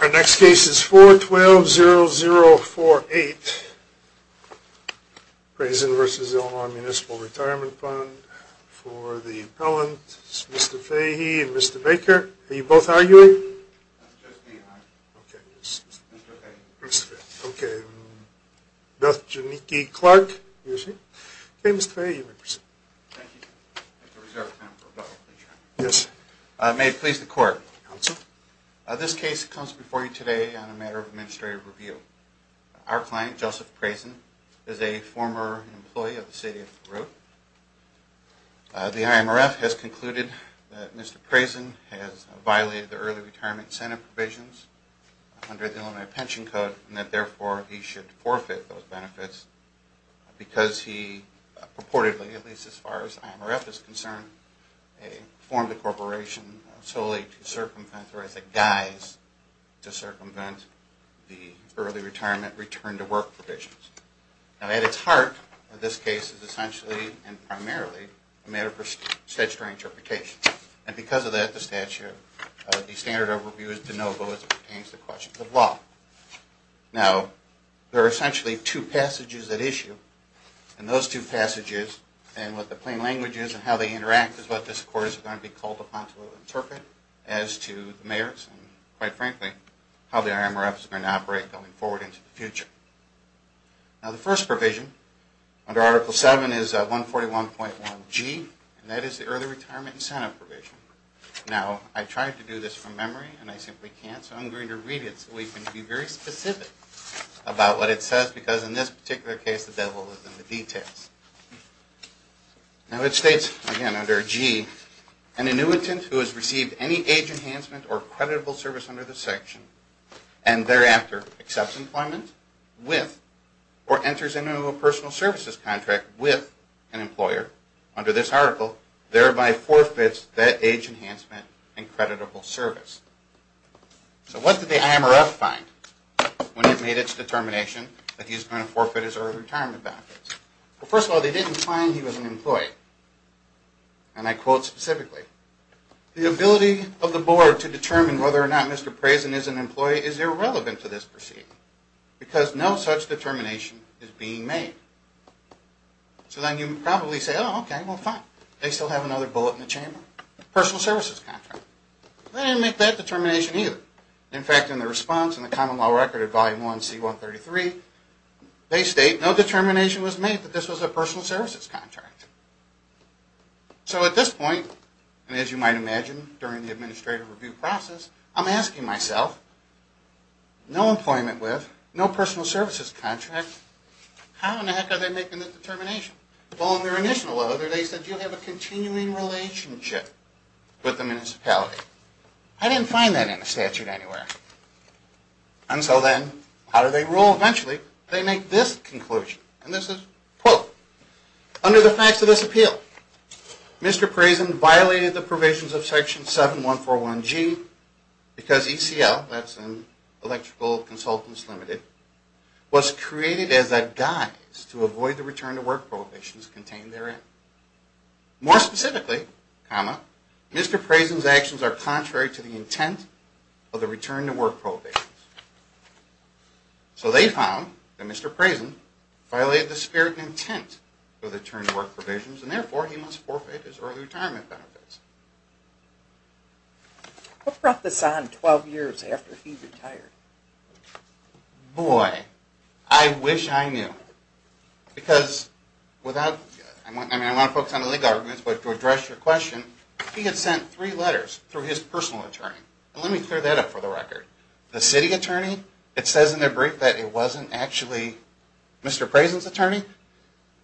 Our next case is 412-0048, Brazen v. Illinois Municipal Retirement Fund. For the appellant is Mr. Fahy and Mr. Baker. Are you both arguing? That's just me. I'm Mr. Fahy. Mr. Fahy. Okay. Beth Janicki Clark. Okay, Mr. Fahy, you may proceed. Thank you. I have to reserve time for a vote. Yes. May it please the court. Counsel. This case comes before you today on a matter of administrative review. Our client, Joseph Brazen, is a former employee of the city of Baruch. The IMRF has concluded that Mr. Brazen has violated the early retirement incentive provisions under the Illinois Pension Code and that therefore he should forfeit those benefits because he purportedly, at least as far as the IMRF is concerned, formed a corporation solely to circumvent or as a guise to circumvent the early retirement return to work provisions. Now at its heart, this case is essentially and primarily a matter for statutory interpretation. And because of that, the statute, the standard overview is de novo as it pertains to questions of law. Now, there are essentially two passages at issue. And those two passages and what the plain language is and how they interact is what this court is going to be called upon to interpret as to the merits and quite frankly, how the IMRF is going to operate going forward into the future. Now, the first provision under Article 7 is 141.1G and that is the early retirement incentive provision. Now, I tried to do this from memory and I simply can't, so I'm going to read it so we can be very specific about what it says because in this particular case, the devil is in the details. Now, it states again under G, an annuitant who has received any age enhancement or creditable service under this section and thereafter accepts employment with or enters into a personal services contract with an employer under this article, thereby forfeits that age enhancement and creditable service. So what did the IMRF find when it made its determination that he was going to forfeit his early retirement benefits? Well, first of all, they didn't find he was an employee. And I quote specifically, the ability of the board to determine whether or not Mr. Prezen is an employee is irrelevant to this proceeding because no such determination is being made. So then you would probably say, oh, okay, well, fine. They still have another bullet in the chamber, personal services contract. They didn't make that determination either. In fact, in the response in the common law record of Volume 1C133, they state no determination was made that this was a personal services contract. So at this point, and as you might imagine during the administrative review process, I'm asking myself, no employment with, no personal services contract, how in the heck are they making this determination? Well, in their initial letter, they said you have a continuing relationship with the municipality. I didn't find that in the statute anywhere. And so then how do they rule eventually? They make this conclusion, and this is, quote, under the facts of this appeal, Mr. Prezen violated the provisions of Section 7141G because ECL, that's Electrical Consultants Limited, was created as a guise to avoid the return to work prohibitions contained therein. More specifically, comma, Mr. Prezen's actions are contrary to the intent of the return to work prohibitions. So they found that Mr. Prezen violated the spirit and intent of the return to work provisions, and therefore, he must forfeit his early retirement benefits. What brought this on 12 years after he retired? Boy, I wish I knew. Because without, I mean, I want to focus on the legal arguments, but to address your question, he had sent three letters through his personal attorney. And let me clear that up for the record. The city attorney, it says in their brief that it wasn't actually Mr. Prezen's attorney.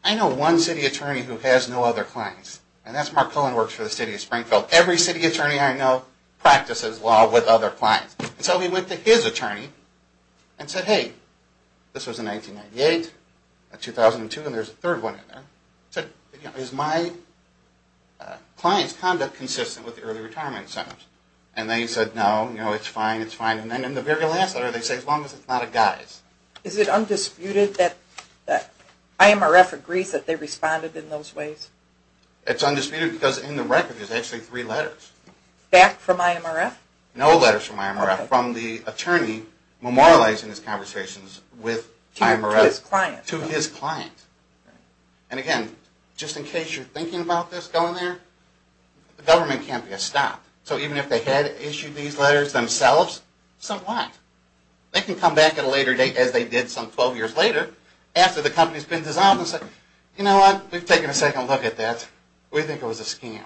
I know one city attorney who has no other clients, and that's Mark Cohen works for the City of Springfield. Every city attorney I know practices law with other clients. So he went to his attorney and said, hey, this was in 1998, 2002, and there's a third one in there. He said, is my client's conduct consistent with the early retirement incentives? And they said, no, it's fine, it's fine. And then in the very last letter, they say, as long as it's not a guise. Is it undisputed that IMRF agrees that they responded in those ways? It's undisputed because in the record there's actually three letters. Back from IMRF? No letters from IMRF, from the attorney memorializing his conversations with IMRF. To his client. To his client. And again, just in case you're thinking about this going there, the government can't be a stop. So even if they had issued these letters themselves, so what? They can come back at a later date, as they did some 12 years later, after the company's been dissolved, and say, you know what, we've taken a second look at that, we think it was a scam.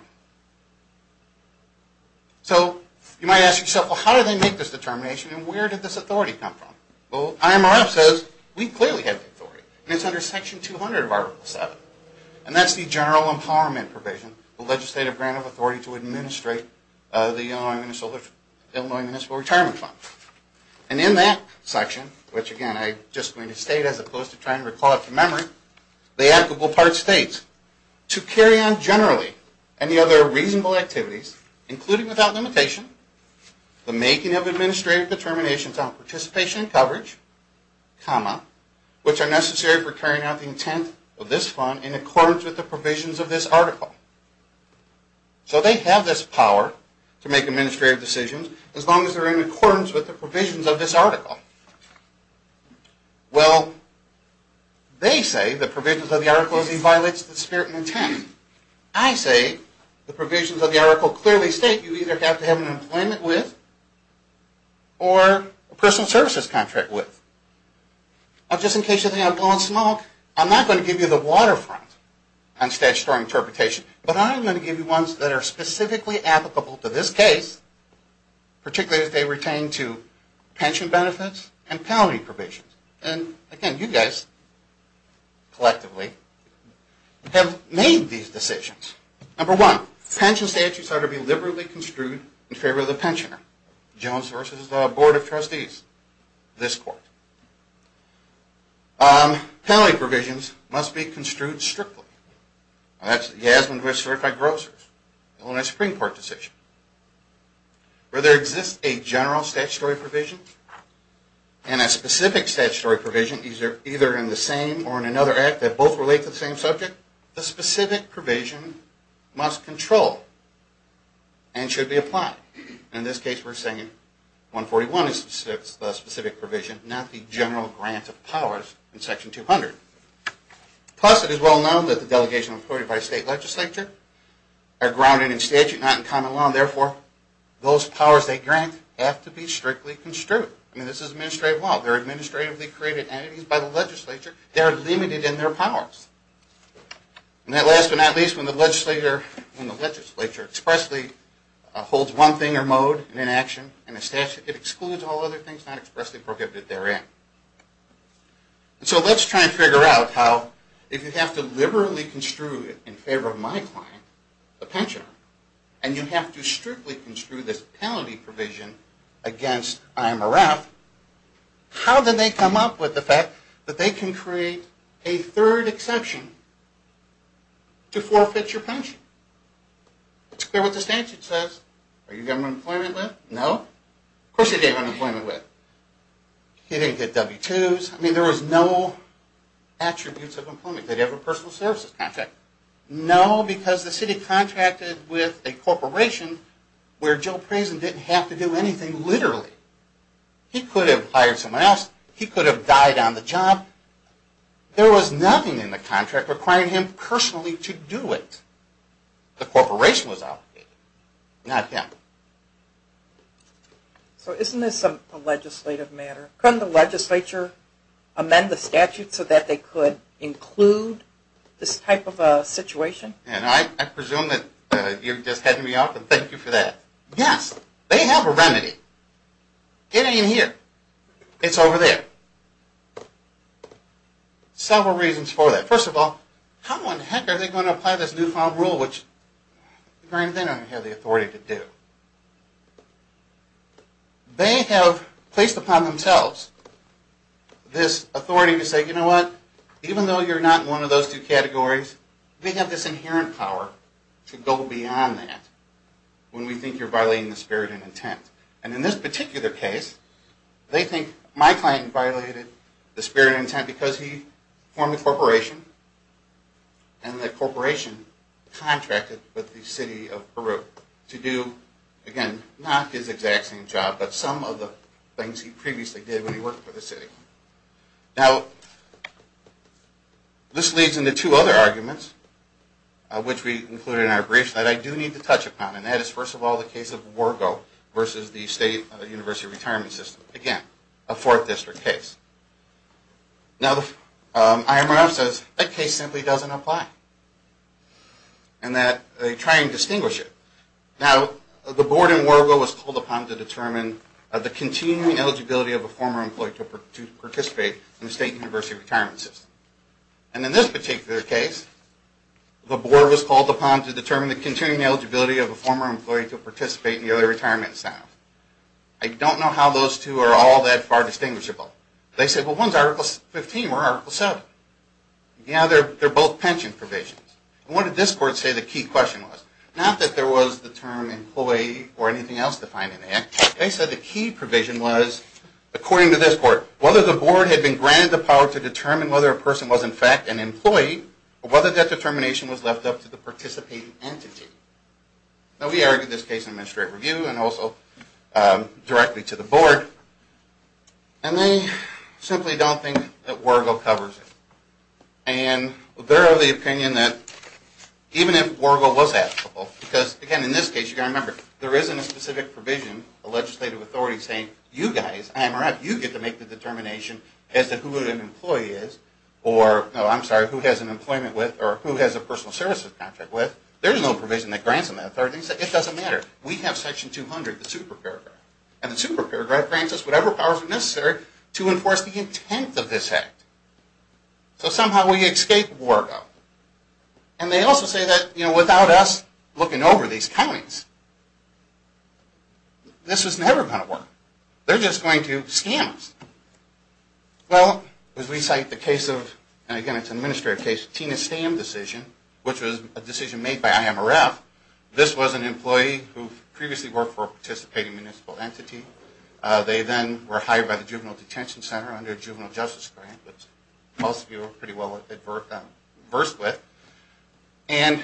So you might ask yourself, well, how did they make this determination, and where did this authority come from? Well, IMRF says, we clearly have the authority, and it's under section 200 of article 7. And that's the general empowerment provision, the legislative grant of authority to administrate the Illinois Municipal Retirement Fund. And in that section, which again, I'm just going to state as opposed to trying to recall it from memory, the applicable part states, to carry on generally any other reasonable activities, including without limitation, the making of administrative determinations on participation and coverage, comma, which are necessary for carrying out the intent of this fund in accordance with the provisions of this article. So they have this power to make administrative decisions, as long as they're in accordance with the provisions of this article. Well, they say the provisions of the article violates the spirit and intent. I say the provisions of the article clearly state you either have to have an employment with, or a personal services contract with. Now just in case you think I'm going smug, I'm not going to give you the waterfront on statutory interpretation, but I'm going to give you ones that are specifically applicable to this case, particularly as they pertain to pension benefits and penalty provisions. And again, you guys, collectively, have made these decisions. Number one, pension statutes ought to be liberally construed in favor of the pensioner. Jones v. Board of Trustees, this court. Penalty provisions must be construed strictly. That's Yasmin v. Certified Grocers, Illinois Supreme Court decision. Where there exists a general statutory provision and a specific statutory provision, either in the same or in another act that both relate to the same subject, the specific provision must control and should be applied. In this case, we're saying 141 is the specific provision, not the general grant of powers in Section 200. Plus, it is well known that the delegations employed by a state legislature are grounded in statute, not in common law. And therefore, those powers they grant have to be strictly construed. I mean, this is administrative law. They're administratively created entities by the legislature. They are limited in their powers. And last but not least, when the legislature expressly holds one thing or mode in action in a statute, it excludes all other things not expressly prohibited therein. So let's try and figure out how, if you have to liberally construe in favor of my client, the pensioner, and you have to strictly construe this penalty provision against IMRF, how did they come up with the fact that they can create a third exception to forfeit your pension? It's clear what the statute says. Are you getting unemployment with? No. Of course you're getting unemployment with. He didn't get W-2s. I mean, there was no attributes of employment. Did he have a personal services contract? No, because the city contracted with a corporation where Jill Prezen didn't have to do anything literally. He could have hired someone else. He could have died on the job. There was nothing in the contract requiring him personally to do it. The corporation was out. Not him. So isn't this a legislative matter? Couldn't the legislature amend the statute so that they could include this type of a situation? I presume that you're just heading me off, and thank you for that. Yes, they have a remedy. It ain't here. It's over there. Several reasons for that. First of all, how the heck are they going to apply this newfound rule, which apparently they don't have the authority to do? They have placed upon themselves this authority to say, you know what, even though you're not in one of those two categories, we have this inherent power to go beyond that when we think you're violating the spirit and intent. And in this particular case, they think my client violated the spirit and intent because he formed a corporation, and the corporation contracted with the city of Peru to do, again, not his exact same job, but some of the things he previously did when he worked for the city. Now, this leads into two other arguments, which we included in our brief, that I do need to touch upon, and that is, first of all, the case of WERGO versus the State University Retirement System. Again, a fourth district case. Now, the IMRF says that case simply doesn't apply, and that they try and distinguish it. Now, the board in WERGO was called upon to determine the continuing eligibility of a former employee to participate in the State University Retirement System. And in this particular case, the board was called upon to determine the continuing eligibility of a former employee to participate in the other retirement system. I don't know how those two are all that far distinguishable. They said, well, one's Article 15, one's Article 7. Yeah, they're both pension provisions. And what did this court say the key question was? Not that there was the term employee or anything else defined in the act. They said the key provision was, according to this court, whether the board had been granted the power to determine whether a person was in fact an employee, or whether that determination was left up to the participating entity. Now, we argued this case in administrative review and also directly to the board, and they simply don't think that WERGO covers it. And they're of the opinion that even if WERGO was applicable, because, again, in this case, you've got to remember, there isn't a specific provision, a legislative authority saying, you guys, IMRF, you get to make the determination as to who an employee is, or, no, I'm sorry, who has an employment with, or who has a personal services contract with. There's no provision that grants them that authority. It doesn't matter. We have Section 200, the super paragraph. And the super paragraph grants us whatever powers are necessary to enforce the intent of this act. So somehow we escape WERGO. And without us looking over these counties, this was never going to work. They're just going to scam us. Well, as we cite the case of, and, again, it's an administrative case, Tina Stamm decision, which was a decision made by IMRF, this was an employee who previously worked for a participating municipal entity. They then were hired by the Juvenile Detention Center under a juvenile justice grant, which most of you are pretty well versed with. And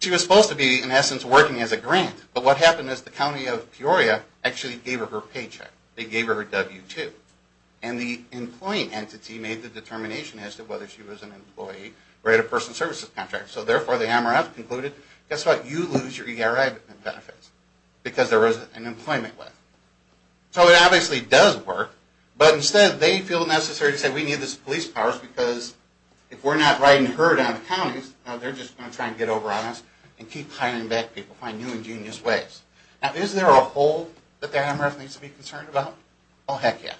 she was supposed to be, in essence, working as a grant. But what happened is the county of Peoria actually gave her her paycheck. They gave her her W-2. And the employee entity made the determination as to whether she was an employee or had a personal services contract. So, therefore, the IMRF concluded, guess what, you lose your ERI benefits because there was an employment with. So it obviously does work, but instead they feel necessary to say we need these police powers because they're just going to try and get over on us and keep hiring back people by new ingenious ways. Now, is there a hole that the IMRF needs to be concerned about? Oh, heck yeah.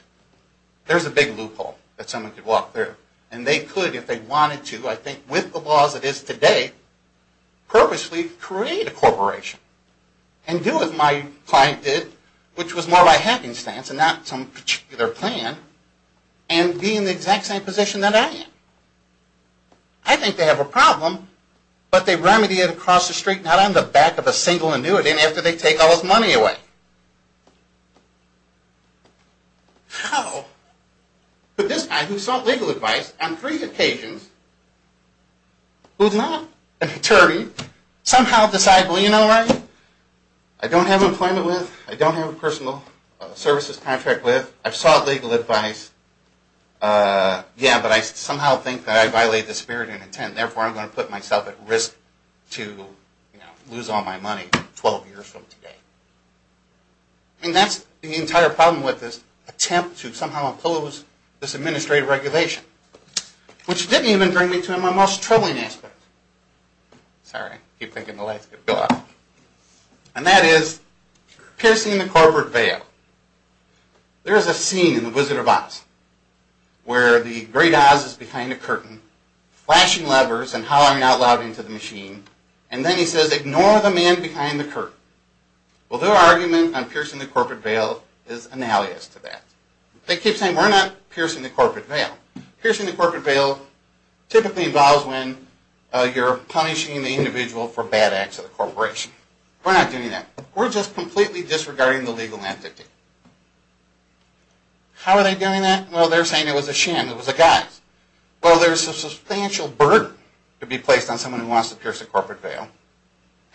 There's a big loophole that someone could walk through. And they could, if they wanted to, I think with the laws it is today, purposely create a corporation and do what my client did, which was more of a hacking stance and not some particular plan, but they remedy it across the street, not on the back of a single annuitant after they take all his money away. How could this guy, who sought legal advice on three occasions, who's not an attorney, somehow decide, well, you know what, I don't have employment with, I don't have a personal services contract with, I've sought legal advice, yeah, but I somehow think that I violate the spirit and intent, and I put myself at risk to lose all my money 12 years from today. And that's the entire problem with this attempt to somehow impose this administrative regulation, which didn't even bring me to my most troubling aspect. Sorry, I keep thinking the lights are going to go out. And that is piercing the corporate veil. There is a scene in The Wizard of Oz where the great Oz is behind a curtain, flashing levers and shouting out loud into the machine, and then he says, ignore the man behind the curtain. Well, their argument on piercing the corporate veil is an alias to that. They keep saying, we're not piercing the corporate veil. Piercing the corporate veil typically involves when you're punishing the individual for bad acts of the corporation. We're not doing that. We're just completely disregarding the legal entity. It's based on someone who wants to pierce the corporate veil.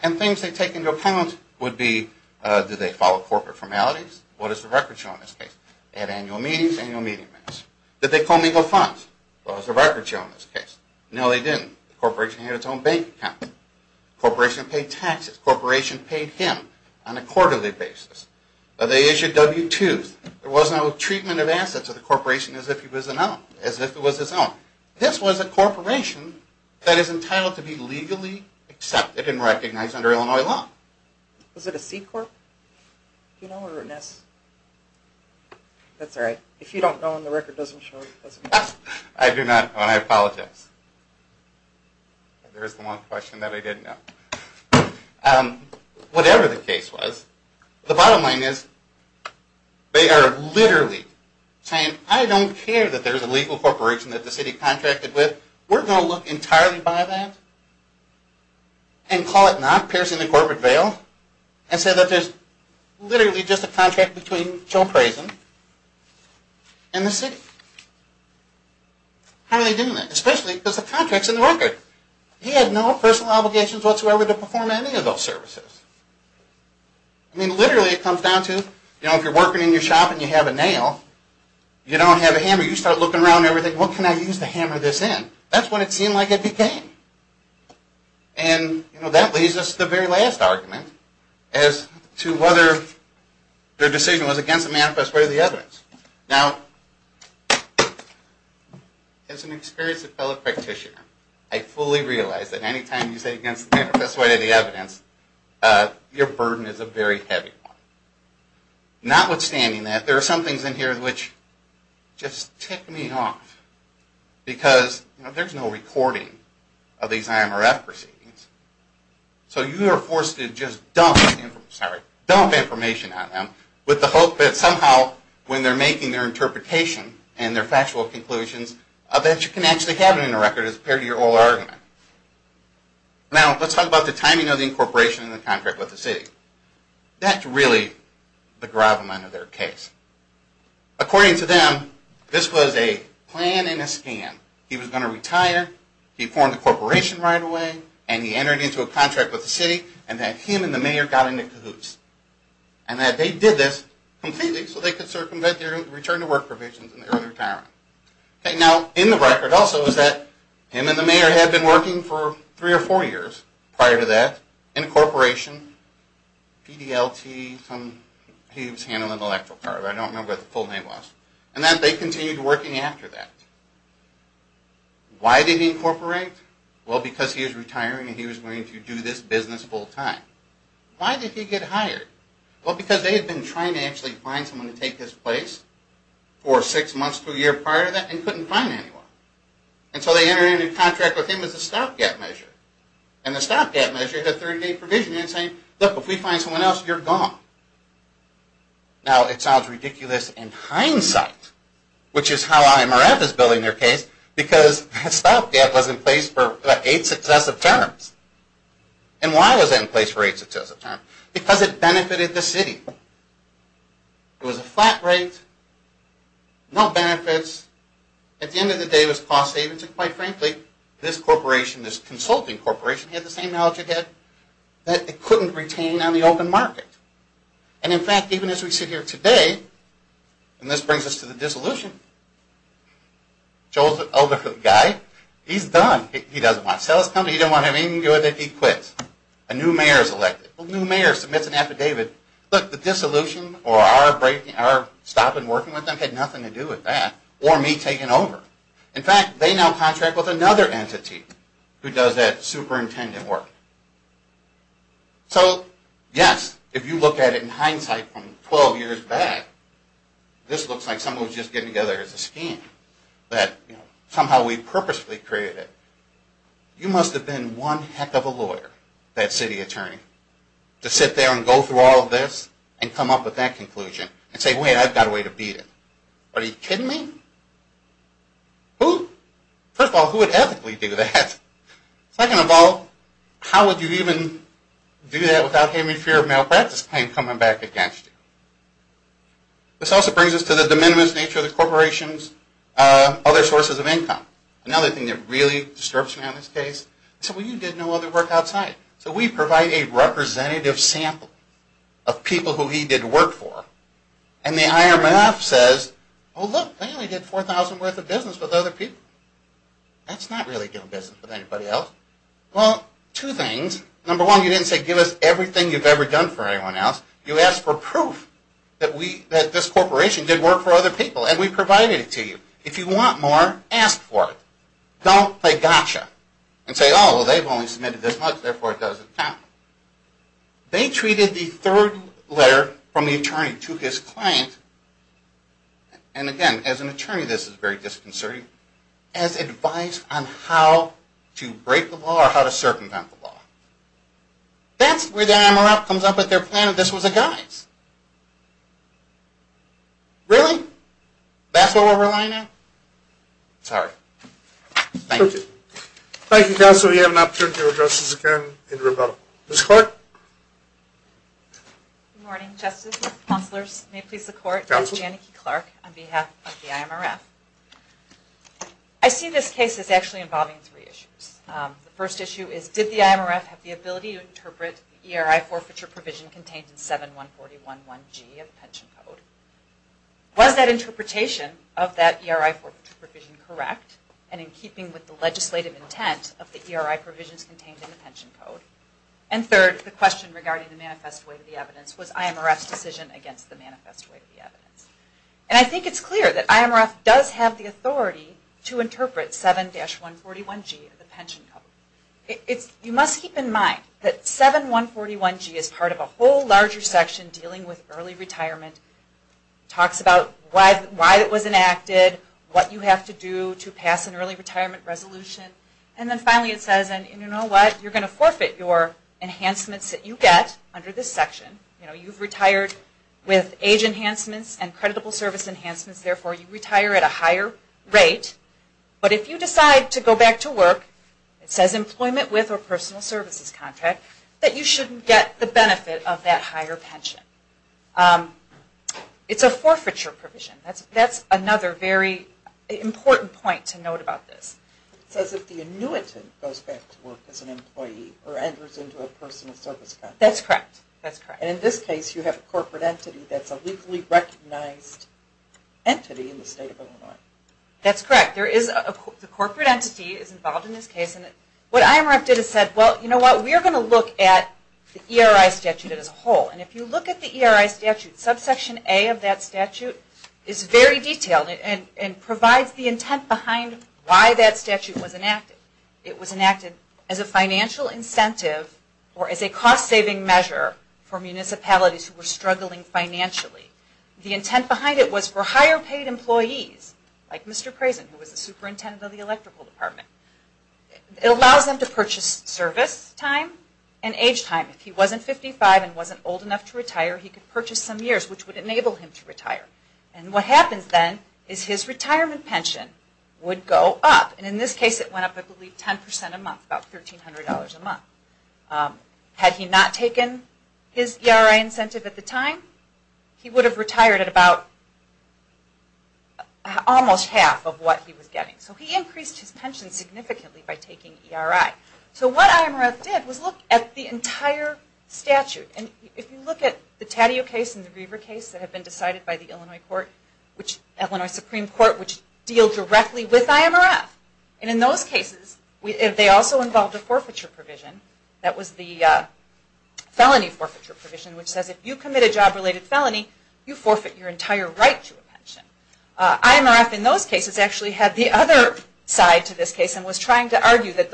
And things they take into account would be, do they follow corporate formalities? What is the record show in this case? They had annual meetings, annual meeting minutes. Did they co-mingle funds? What was the record show in this case? No, they didn't. The corporation had its own bank account. The corporation paid taxes. The corporation paid him on a quarterly basis. The corporation was allowed to be legally accepted and recognized under Illinois law. Was it a C-corp? Do you know where it is? That's all right. If you don't know and the record doesn't show, it doesn't matter. I do not know, and I apologize. There is one question that I didn't know. Whatever the case was, the bottom line is, and call it not, piercing the corporate veil, and say that there is literally just a contract between Joe Crazen and the city. How are they doing that? Especially because the contract is in the record. He had no personal obligations whatsoever to perform any of those services. I mean, literally, it comes down to, if you are working in your shop and you have a nail, you don't have a hammer, you start looking around and you think, what can I use to hammer this in? That's what it seemed like it became. That leads us to the very last argument as to whether their decision was against the manifest way of the evidence. Now, I fully realize that anytime you say against the manifest way of the evidence, there is which just ticked me off because there is no recording of these IMRF proceedings. So you are forced to just dump information on them with the hope that somehow when they are making their interpretation and their factual conclusions, that you can actually have it in the record as a part of your whole argument. Now, let's talk about the timing of the incorporation of the contract with the city. That's really the gravamen of their case. According to them, this was a plan in a scan. He was going to retire, he formed a corporation right away, and he entered into a contract with the city and that him and the mayor got into cahoots. And that they did this completely so they could circumvent their return to work provisions in the early retirement. Now, in the record also is that him and the mayor had been working for three or four years prior to that with PDLT, he was handling the electric car, but I don't remember what the full name was. And that they continued working after that. Why did he incorporate? Well, because he was retiring and he was going to do this business full time. Why did he get hired? Well, because they had been trying to actually find someone to take his place for six months to a year prior to that and couldn't find anyone. And so they entered into a contract with him as a stopgap measure. And the stopgap measure is if you can't find someone else, you're gone. Now, it sounds ridiculous in hindsight, which is how IMRF is building their case, because that stopgap was in place for eight successive terms. And why was that in place for eight successive terms? Because it benefited the city. It was a flat rate, no benefits, at the end of the day it was cost savings. And quite frankly, this corporation, it was an open market. And in fact, even as we sit here today, and this brings us to the dissolution, Joel's an elderly guy, he's done. He doesn't want to sell his company, he doesn't want to have anything to do with it, he quits. A new mayor is elected. A new mayor submits an affidavit, look, the dissolution or our stopping working with them had nothing to do with that or me taking over. Unless, if you look at it in hindsight from 12 years back, this looks like someone was just getting together as a scam, that somehow we purposefully created it. You must have been one heck of a lawyer, that city attorney, to sit there and go through all of this and come up with that conclusion and say, wait, I've got a way to beat it. Are you kidding me? Who? First of all, who would ethically do that? Second of all, it's a malpractice claim coming back against you. This also brings us to the de minimis nature of the corporation's other sources of income. Another thing that really disturbs me on this case, is when you did no other work outside. So we provide a representative sample of people who he did work for and the higher-up says, oh look, they only did $4,000 worth of business with other people. That's not really doing business with anybody else. It's not doing business for anyone else. You ask for proof that this corporation did work for other people and we provided it to you. If you want more, ask for it. Don't play gotcha and say, oh, they've only submitted this much therefore it doesn't count. They treated the third letter from the attorney to his client, and again, as an attorney as advice on how to break the law or how to circumvent the law. But their plan of this was a guise. Really? That's what we're relying on? Sorry. Thank you. Thank you, Counselor. We have an opportunity to address this again in rebuttal. Ms. Clark? Good morning, Justice. Counselors, may it please the Court. Counsel? Janneke Clark on behalf of the IMRF. I see this case as actually involving three issues. The first issue is, did the IMRF have the ability to interpret the ERI forfeiture provision contained in 7-141G of the Pension Code? Was that interpretation of that ERI forfeiture provision correct? And in keeping with the legislative intent of the ERI provisions contained in the Pension Code? And third, the question regarding the manifest weight of the evidence was IMRF's decision against the manifest weight of the evidence? And I think it's clear that IMRF does have the authority to interpret 7-141G of the Pension Code. You must keep in mind that 7-141G is part of a whole larger section dealing with early retirement. It talks about why it was enacted, what you have to do to pass an early retirement resolution. And then finally it says, and you know what, you're going to forfeit your enhancements that you get under this section. You know, you've retired with age enhancements and creditable service enhancements. Therefore, you retire at a higher rate. That's a personal services contract that you shouldn't get the benefit of that higher pension. It's a forfeiture provision. That's another very important point to note about this. It says if the annuitant goes back to work as an employee or enters into a personal service contract. That's correct. And in this case, you have a corporate entity that's a legally recognized entity in the state of Illinois. That's correct. Well, you know what, we're going to look at the ERI statute as a whole. And if you look at the ERI statute, subsection A of that statute is very detailed and provides the intent behind why that statute was enacted. It was enacted as a financial incentive or as a cost-saving measure for municipalities who were struggling financially. The intent behind it was for higher paid employees like Mr. Crazen, to increase his service time and age time. If he wasn't 55 and wasn't old enough to retire, he could purchase some years which would enable him to retire. And what happens then is his retirement pension would go up. And in this case it went up I believe 10% a month, about $1,300 a month. Had he not taken his ERI incentive at the time, he would have retired and his pension would have gone up. So what IMRF did was look at the entire statute. If you look at the Taddeo case and the Reaver case that have been decided by the Illinois Supreme Court which deal directly with IMRF. And in those cases they also involved a forfeiture provision. That was the felony forfeiture provision which says if you commit a job-related felony, you forfeit your entire right to a pension. IMRF in those cases actually had the other side to this case and was trying to argue that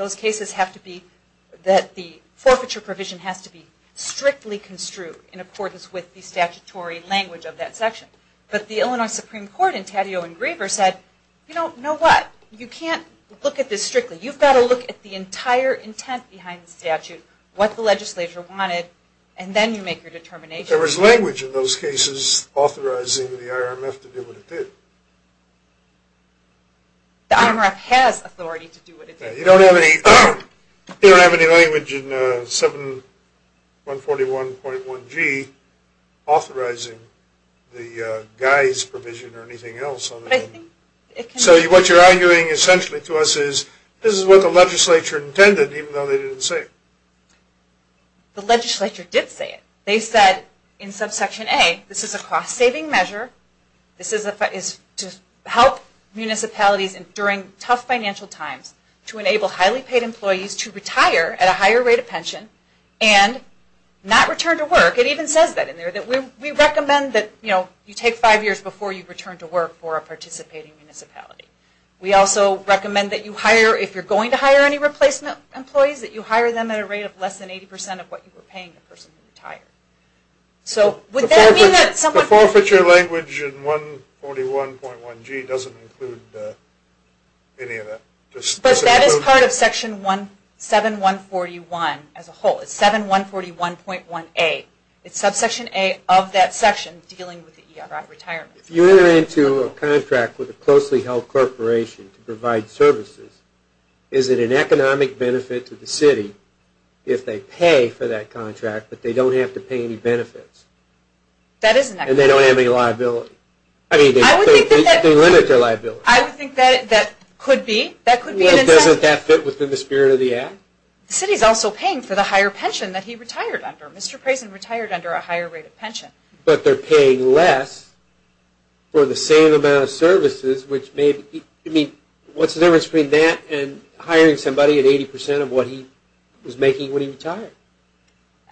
the forfeiture provision has to be strictly construed in accordance with the statutory language of that section. But the Illinois Supreme Court in Taddeo and Reaver said, you know what, you can't look at this strictly. You've got to look at the entire intent behind what IMRF did. The IMRF has authority to do what it did. You don't have any language in 7141.1G authorizing the guise provision or anything else. So what you're arguing essentially to us is this is what the legislature intended even though they didn't say it. The legislature did say it. They said in subsection A this is a cost-saving measure to help municipalities during tough financial times to enable highly paid employees to retire at a higher rate of pension and not return to work. It even says that in there. We recommend that you take five years before you return to work for a participating municipality. We also recommend that if you're going to hire any replacement employees that you hire them at a rate of less than 80% of what you were paying the person who retired. The forfeiture language in 7141.1G doesn't include any of that. But that is part of section 7141 as a whole. It's 7141.1A. It's subsection A of that section dealing with the retirement. If you enter into a contract with a closely held corporation to provide services is it an economic benefit to the city if they pay for that contract but they don't have to pay any benefits? That is an economic benefit. And they don't have any liability? I would think that they limit their liability. I would think that could be an incentive. Doesn't that fit within the spirit of the act? The city is also paying for the higher pension that he retired under. Mr. Prezen retired under a higher rate of pension. But they're paying less for the same amount of services which may be... What's the difference between that and hiring somebody at 80% of what he was making when he retired?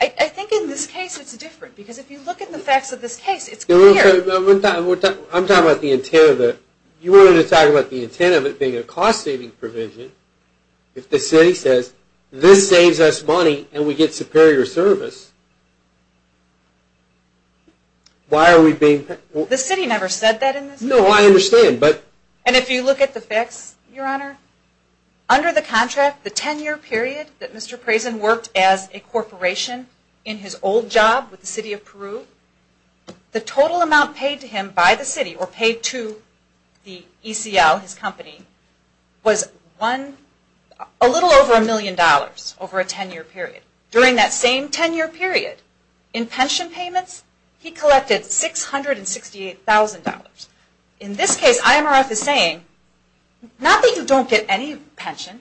I think in this case it's different because if you look at the facts of this case it's clear. I'm talking about the intent of it. You wanted to talk about the intent of it being a cost saving provision. If the city says this saves us money and we get superior service why are we being... The city never said that in this case. No, I understand. And if you look at the facts, Your Honor, under the contract the 10 year period that Mr. Prezen worked as a corporation in his old job with the city of Peru, the total amount paid to him by the city or paid to the ECL, his company, was a little over a million dollars over a 10 year period. During that same 10 year period in pension payments he collected $668,000. In this case IMRF is saying not that you don't get any pension.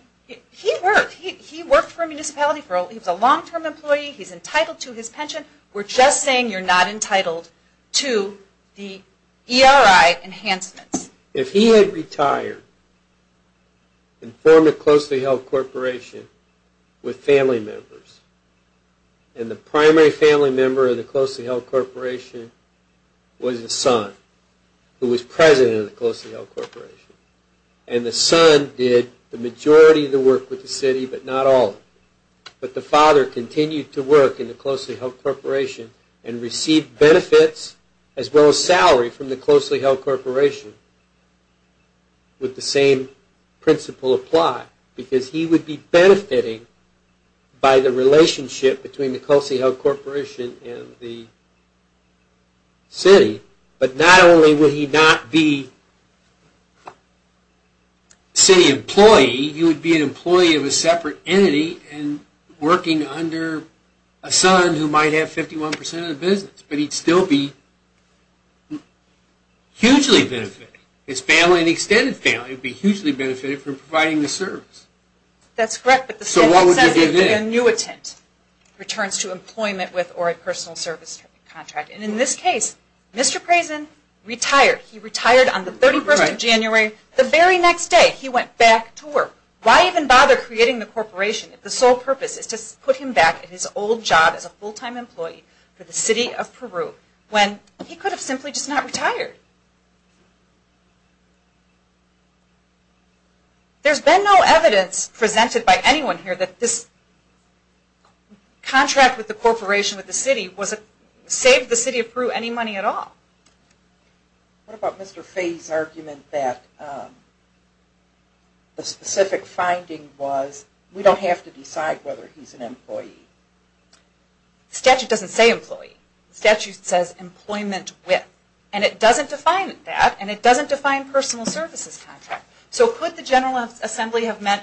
He worked. He worked for a municipality. He was a long-term employee. He's entitled to his pension. We're just saying you're not entitled to the ERI enhancements. If he had retired and formed a closely held corporation with family members and the primary family member of the closely held corporation was the son who was president of the closely held corporation. And the son did the majority of the work with the city but not all. But the father continued to work in the closely held corporation and received benefits as well as salary from the closely held corporation with the same principle applied because he would be benefiting by the relationship between the closely held corporation and the city but not only would he not be city employee, he would be an employee of a separate entity and working under a son who might have 51% of the business but he would still be hugely benefited. His family and extended family would be hugely benefited from providing the service. So what would you give in? An annuitant returns to employment with or a personal service contract. And in this case, Mr. Prezen retired. He retired on the 31st of January. The very next day he went back to work. Why even bother creating the corporation if the sole purpose is to put him back at his old job as a full-time employee for the city of Peru when he could have simply just not retired? There's been no evidence presented by anyone here that this contract with the corporation, with the city, saved the city of Peru any money at all. What about Mr. Fay's argument that the specific finding was we don't have to decide whether he's an employee? The statute doesn't say employee. The statute says employment with. And it doesn't define that and it doesn't define personal services contract. So could the statute say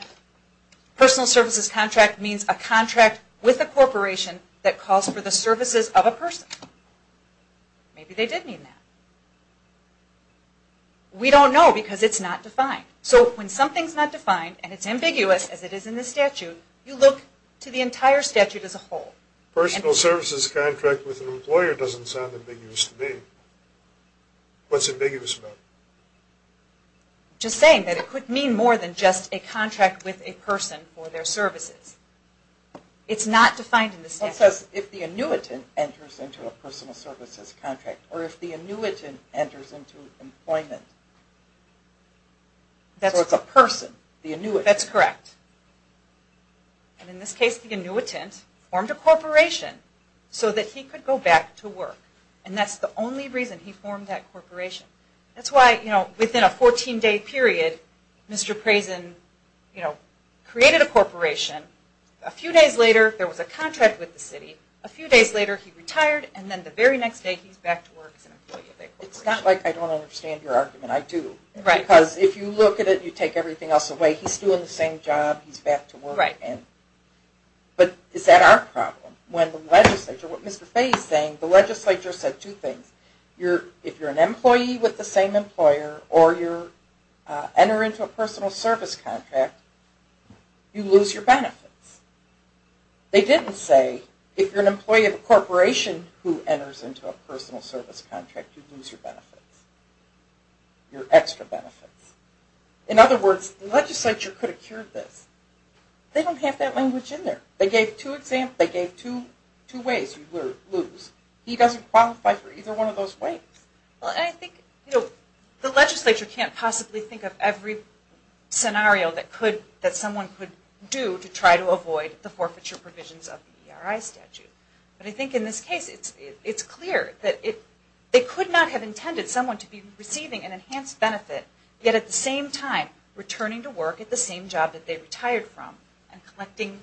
personal services contract means a contract with a corporation that calls for the services of a person? Maybe they did mean that. We don't know because it's not defined. So when something's not defined and it's ambiguous as it is in the statute, you look to the entire statute as a whole. Personal services contract with an employer doesn't sound ambiguous to me. What's ambiguous? It's not defined in the statute. Because if the annuitant enters into a personal services contract or if the annuitant enters into employment so it's a person, the annuitant. That's correct. And in this case the annuitant formed a corporation so that he could go back to work. And that's the only reason he formed that corporation. That's why, you know, within a 14-day period, Mr. Preysen, you know, created a corporation. A few days later there was a contract with the city. A few days later he retired and then the very next day he's back to work as an employee of that corporation. It's not like I don't understand your argument. I do. Right. Because if you look at it, you take everything else away, he's still in the same job, he's back to work. Right. But is that our problem? When the legislature, what Mr. Fey is saying, the legislature said two things. If you're an employee with the same employer or you enter into a personal service contract, you lose your benefits. They didn't say if you're an employee of a corporation who enters into a personal service contract, you lose your benefits, your extra benefits. In other words, the legislature could have cured this. They don't have that language in there. They gave two ways you would lose. He doesn't qualify for either one of those ways. Well, I think the legislature can't possibly think of every scenario that someone could do to try to avoid the forfeiture provisions of the ERI statute. But I think in this case, it's clear that they could not have intended someone to be receiving an enhanced benefit, yet at the same time returning to work at the same job that they retired from and collecting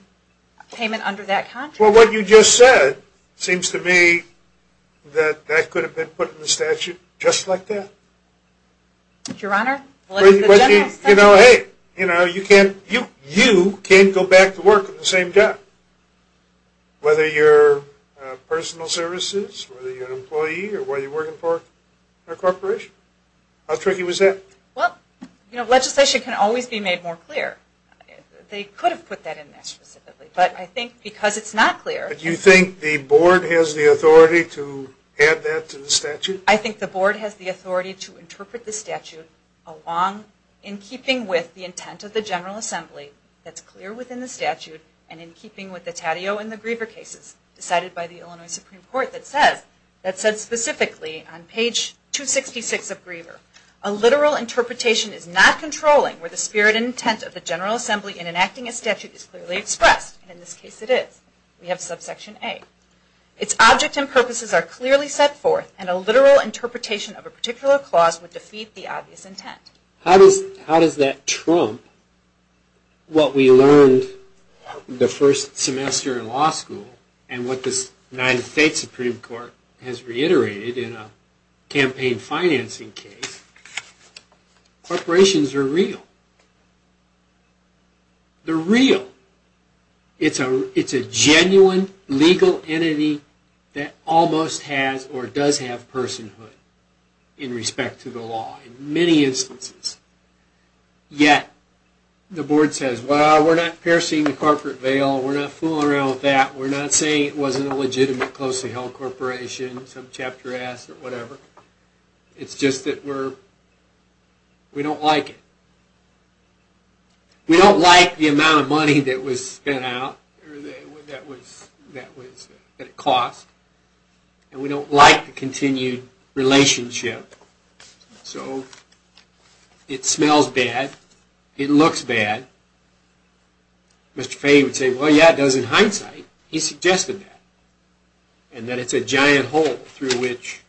payment under that contract. Well, what you just said seems to me that that could have been put in the statute just like that. Your Honor, the legislature said that. You know, hey, you can't go back to work at the same job, whether you're personal services, whether you're an employee or what you're doing. You know, legislation can always be made more clear. They could have put that in there specifically. But I think because it's not clear... But you think the Board has the authority to add that to the statute? I think the Board has the authority to interpret the statute along in keeping with the intent of the General Assembly that's clear within the statute and in keeping with the Tatio and in keeping with the intent of the General Assembly that is clearly expressed. And in this case it is. We have subsection A. Its object and purposes are clearly set forth and a literal interpretation of a particular clause would defeat the obvious intent. How does that trump what we learned the first semester in law school and what the United States Supreme Court has reiterated in a campaign financing case? Corporations are real. They're real. It's a genuine legal entity that almost has or does have personhood in respect to the law in many instances. Yet the well, we're not piercing the corporate veil. We're not fooling around with that. We're not saying it wasn't a legitimate close-to-home corporation, some chapter S or whatever. It's just that we're, we don't like it. We don't like the amount of money that was spent out, that it cost, and we don't like the continued relationship. So, it smells bad, it looks bad. Mr. Fay would say, well, yeah, but it's a giant hole through which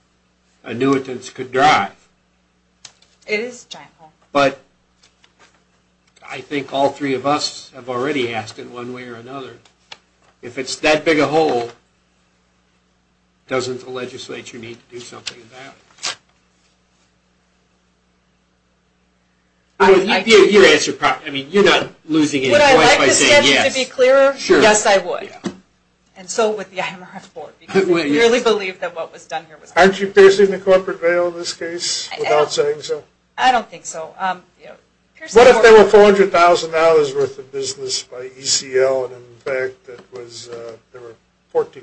annuitants could drive. It is a giant hole. But I think all three of us have already asked in one way or another, if it's that big a hole, doesn't the legislature need to do something about it? I mean, you're not losing any points by saying yes. Would I say yes? Yes, I would. And so would the IMRF board. We really believe that what was done here was right. Aren't you facing the corporate veil in this case, without saying so? I don't think so. What if there were $400,000 worth of business by ECL and in fact there were 14 employees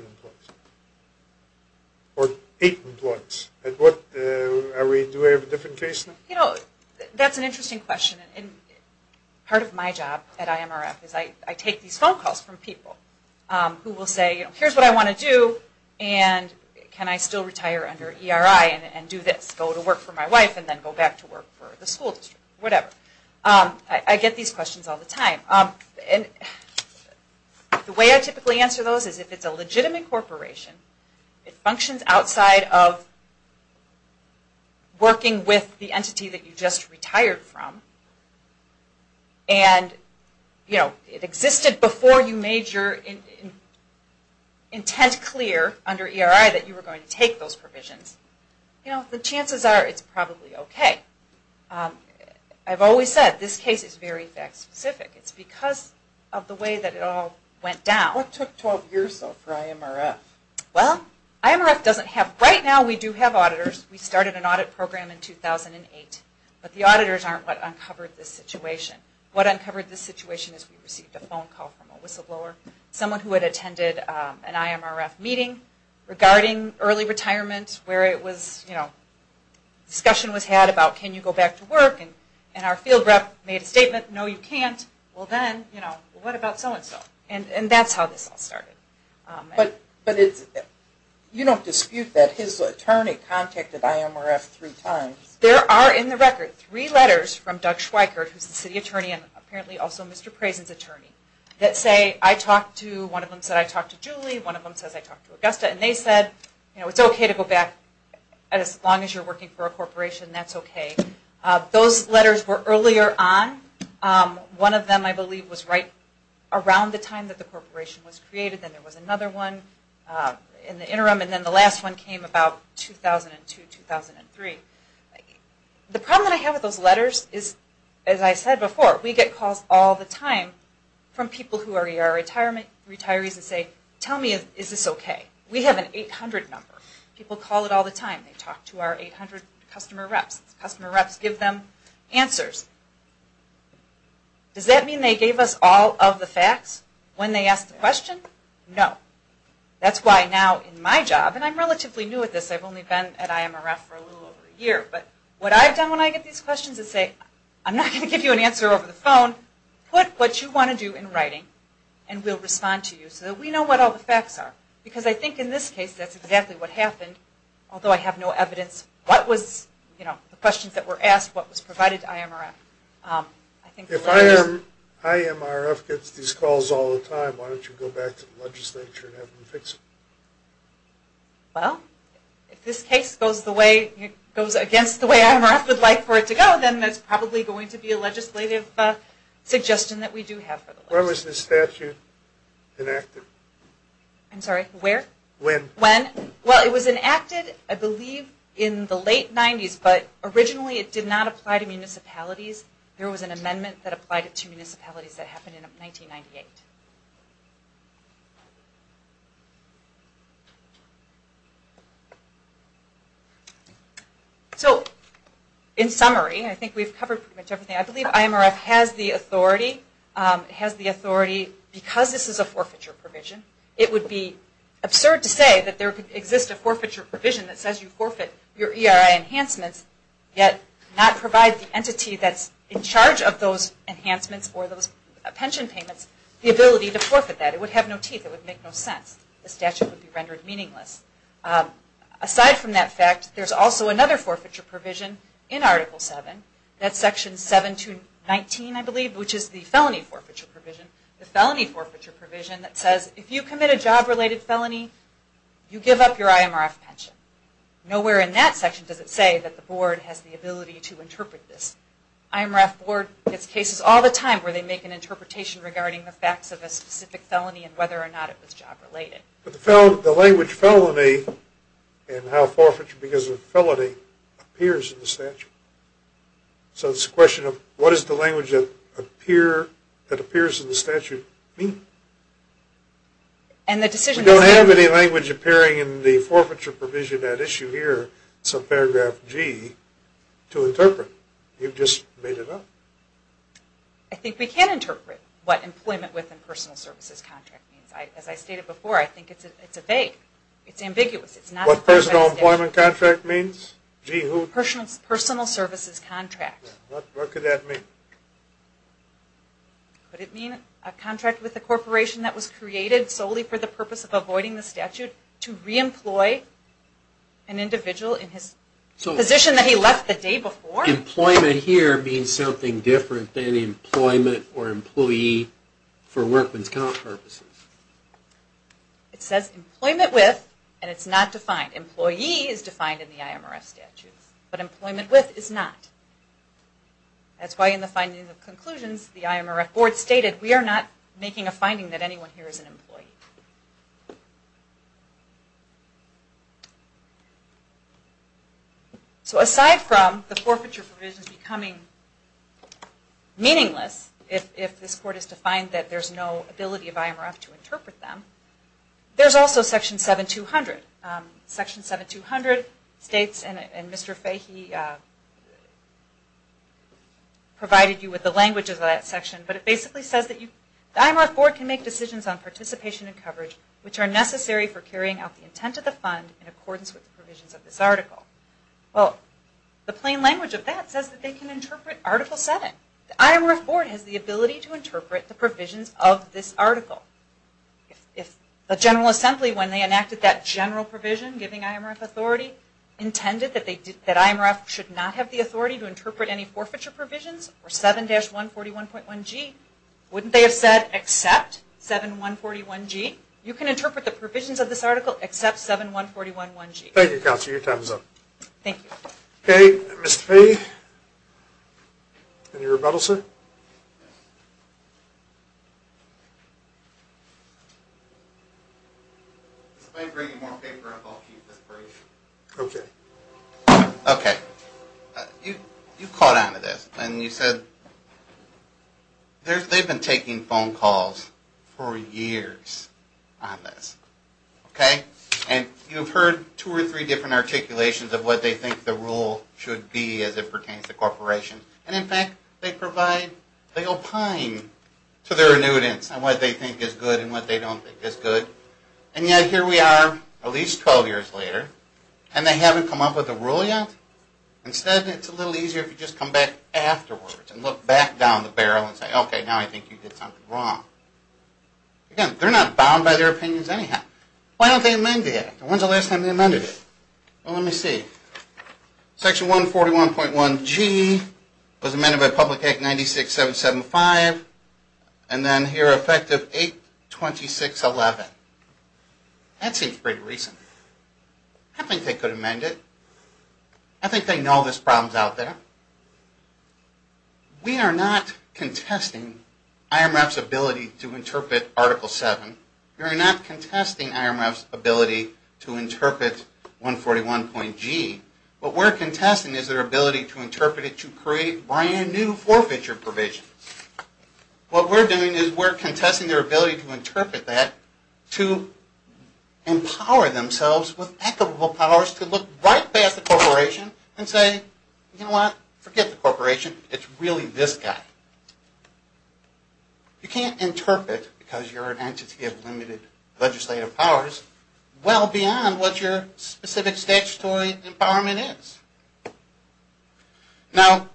or 8 people who will say, here's what I want to do and can I still retire under ERI and do this, go to work for my wife and then go back to work for the school district? Whatever. I get these questions all the time. The way I typically answer those is if it's a legitimate corporation, it functions outside of working with the entity that you just retired from and it existed before you made your intent clear under ERI that you were going to take those provisions, the chances are it's probably okay. I've always said this case is very fact specific. It's because of the way that it all went down. What took 12 years for IMRF? Well, IMRF doesn't have, right now we do have auditors. We started an audit program in 2008, but the auditors aren't what uncovered this situation. What uncovered this situation is we received a phone call from a whistleblower, someone who had attended an IMRF meeting regarding early retirement where it was, you know, discussion was had about can you go back to work and our field rep made a statement, no you can't, well then, you know, what about so and so? And that's how this all started. But you don't dispute that his attorney contacted IMRF three times? There are in the record three letters from Doug Schweikert, who's the city attorney and apparently also Mr. Prezen's attorney, that say, I talked to Julie, one of them said I believe was right around the time the corporation was created and there was another one in the interim and the last one came about 2002, 2003. The problem I have with those letters is, as I said before, we get calls all the time from people who are retirees and say, tell me is this okay? We have an 800 number. People call it all the time. They talk to our 800 customer reps. Customer reps give them answers. Does that mean they gave us all of the facts when they asked the question? No. That's why now in my job, and I'm relatively new at this, I've only been at IMRF for a little over a year, but what I've done when I get these questions is say, I'm not going to answer them. Although I have no evidence of what was provided to IMRF. If IMRF gets these calls all the time, why don't you go back to the legislature and have them fix it? Well, if this case goes against the way IMRF would like for it to go, then it's probably going to be a legislative suggestion that we do have to go back to the legislature. When was this statute enacted? I'm sorry, where? When. When? Well, it was enacted, I believe, in the late 90s, but originally it did not apply to municipalities. There was an amendment that applied to municipalities that happened in 1998. So, in summary, I think we've covered pretty much everything. I believe the statute has the authority, because this is a forfeiture provision, it would be absurd to say that there could exist a forfeiture provision that says you forfeit your ERI enhancements yet not provide the entity that's in charge of those enhancements or those pension payments the ability to forfeit that. It would make no sense. The statute would be rendered meaningless. Aside from that fact, there's also another forfeiture provision in Article 7, that's Section 7 to 19, I believe, which is the felony forfeiture provision. The felony forfeiture provision that says if you commit a job-related felony, you give up your IMRF pension. Nowhere in that section does it say that the Board has the ability to interpret this. IMRF Board gets cases all the time where they make an interpretation regarding the facts of a specific felony and whether or not it was job-related. But the language felony and how forfeiture because of felony appears in the statute. So it's a question of what is the language that appears in the statute mean? We don't have any language appearing in the forfeiture provision at issue here in paragraph G to interpret. You've just made it up. I think we can interpret what employment within personal services contract means. As I stated before, I think it's a vague, it's ambiguous. What personal employment contract means? Personal services contract. What could that mean? Could it mean a contract with a corporation that was created solely for the purpose of avoiding the statute to reemploy an individual in his position that he left the day before? Employment here means something different than employment or employee for workman's comp purposes. It says employment with, and it's not defined. Employee is defined in the IMRF statute, but employment with is not. That's why in the findings of conclusions, the IMRF board stated we are not making a finding that anyone here is an employee. So aside from the forfeiture provisions becoming meaningless, if this court has defined that there's no ability of IMRF to interpret them, there's also section 7200. Section 7200 states, and Mr. Fahy provided you with the language of that section, but it basically says that the IMRF board can make decisions on participation and coverage which are necessary for carrying out the intent of the fund in accordance with the provisions of this article. If the General Assembly when they enacted that general provision giving IMRF authority intended that IMRF should not have the authority to interpret any forfeiture provisions or 7-141.1G, wouldn't they have said except 7-141G? You can interpret the provisions of this article except 7-141G. Thank you, Counselor. Your time is up. Thank you. Okay. Mr. Fahy, any rebuttal, sir? If I bring you more paper, I'll keep this brief. Okay. Okay. You caught on to this and you said they've been taking phone calls for years on this. Okay. And you've heard two or three different articulations of what they think the rule should be as it pertains to corporations. And in fact they provide, they opine to their annuitants on what they think is good and what they don't think is good. And yet here we are at least 12 years later and they haven't come up with a rule yet? Instead, it's a little easier if you just come back afterwards and look back down the barrel and say, okay, now I think you did something wrong. Again, they're not bound by their opinions anyhow. Why don't they amend it? When's the last time they amended it? Well, let me see. Section 141.1 G was amended by Public Act 96-775 and then here, effective 826-11. That seems pretty recent. I don't think they could amend it. I think they know this problem is out there. We are not contesting IMREP's ability to interpret Article 7. We are not contesting IMREP's ability to interpret 141.G. What we're contesting is their ability to interpret it to create brand new forfeiture provisions. What we're doing is we're contesting their ability to interpret that to empower themselves with equitable powers to look right past the corporation and say, you know what, forget the corporation, it's really this guy. You can't interpret, because you're an entity of limited legislative powers, well beyond what your specific statutory empowerment is. Now,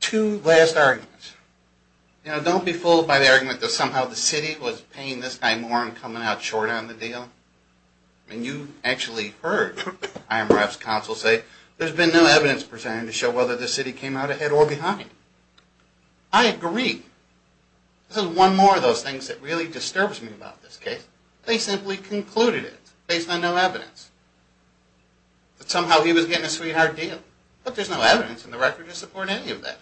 two last arguments. You know, don't be fooled by the argument that somehow the city was paying this guy more and coming out short on the deal. I mean, you actually heard IMREP's counsel say, there's been no evidence presented to show whether the city came out ahead or behind. I agree. This is one more of those things that really disturbs me about this case. They simply concluded it based on no evidence, that somehow he was getting a sweetheart deal. Look, there's no evidence in the record to support any of that.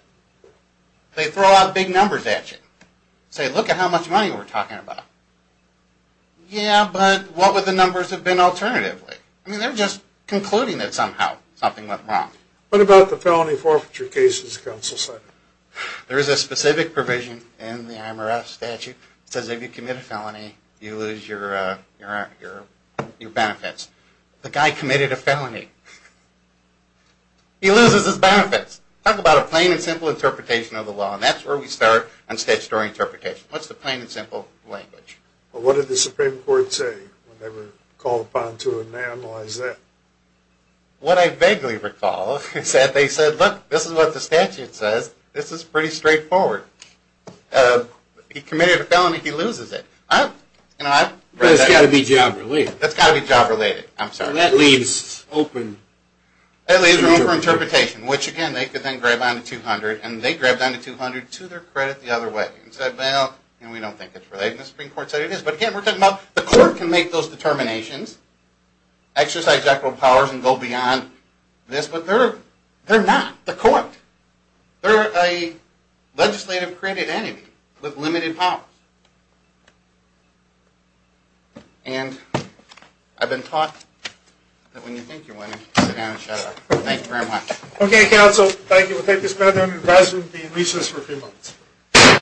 They throw out big numbers at you, say, what about the felony forfeiture cases, counsel said. There is a specific provision in the IMREP statute that says if you commit a felony, you lose your benefits. The guy committed a felony. He loses his benefits. Talk about a plain and simple interpretation of the law, and that's where we start on statutory issues. They said, look, this is what the statute says, this is pretty straightforward. He committed a felony, he loses it. That's got to be job related. That leaves open interpretation, which again, they could then grab on to 200, and they grabbed on to 200 to their credit the other way. The Supreme Court said, well, we don't think it's related. The Supreme Court said it is, but again, we're talking about the court can make those determinations, exercise equitable powers and go beyond this, but they're not the court. They're a legislative credit enemy with limited powers. And I've been taught that when you think you're winning, sit down and shut up. Thank you very much. Okay, counsel, thank you. We'll take this matter under advisement and be in recess for a few months.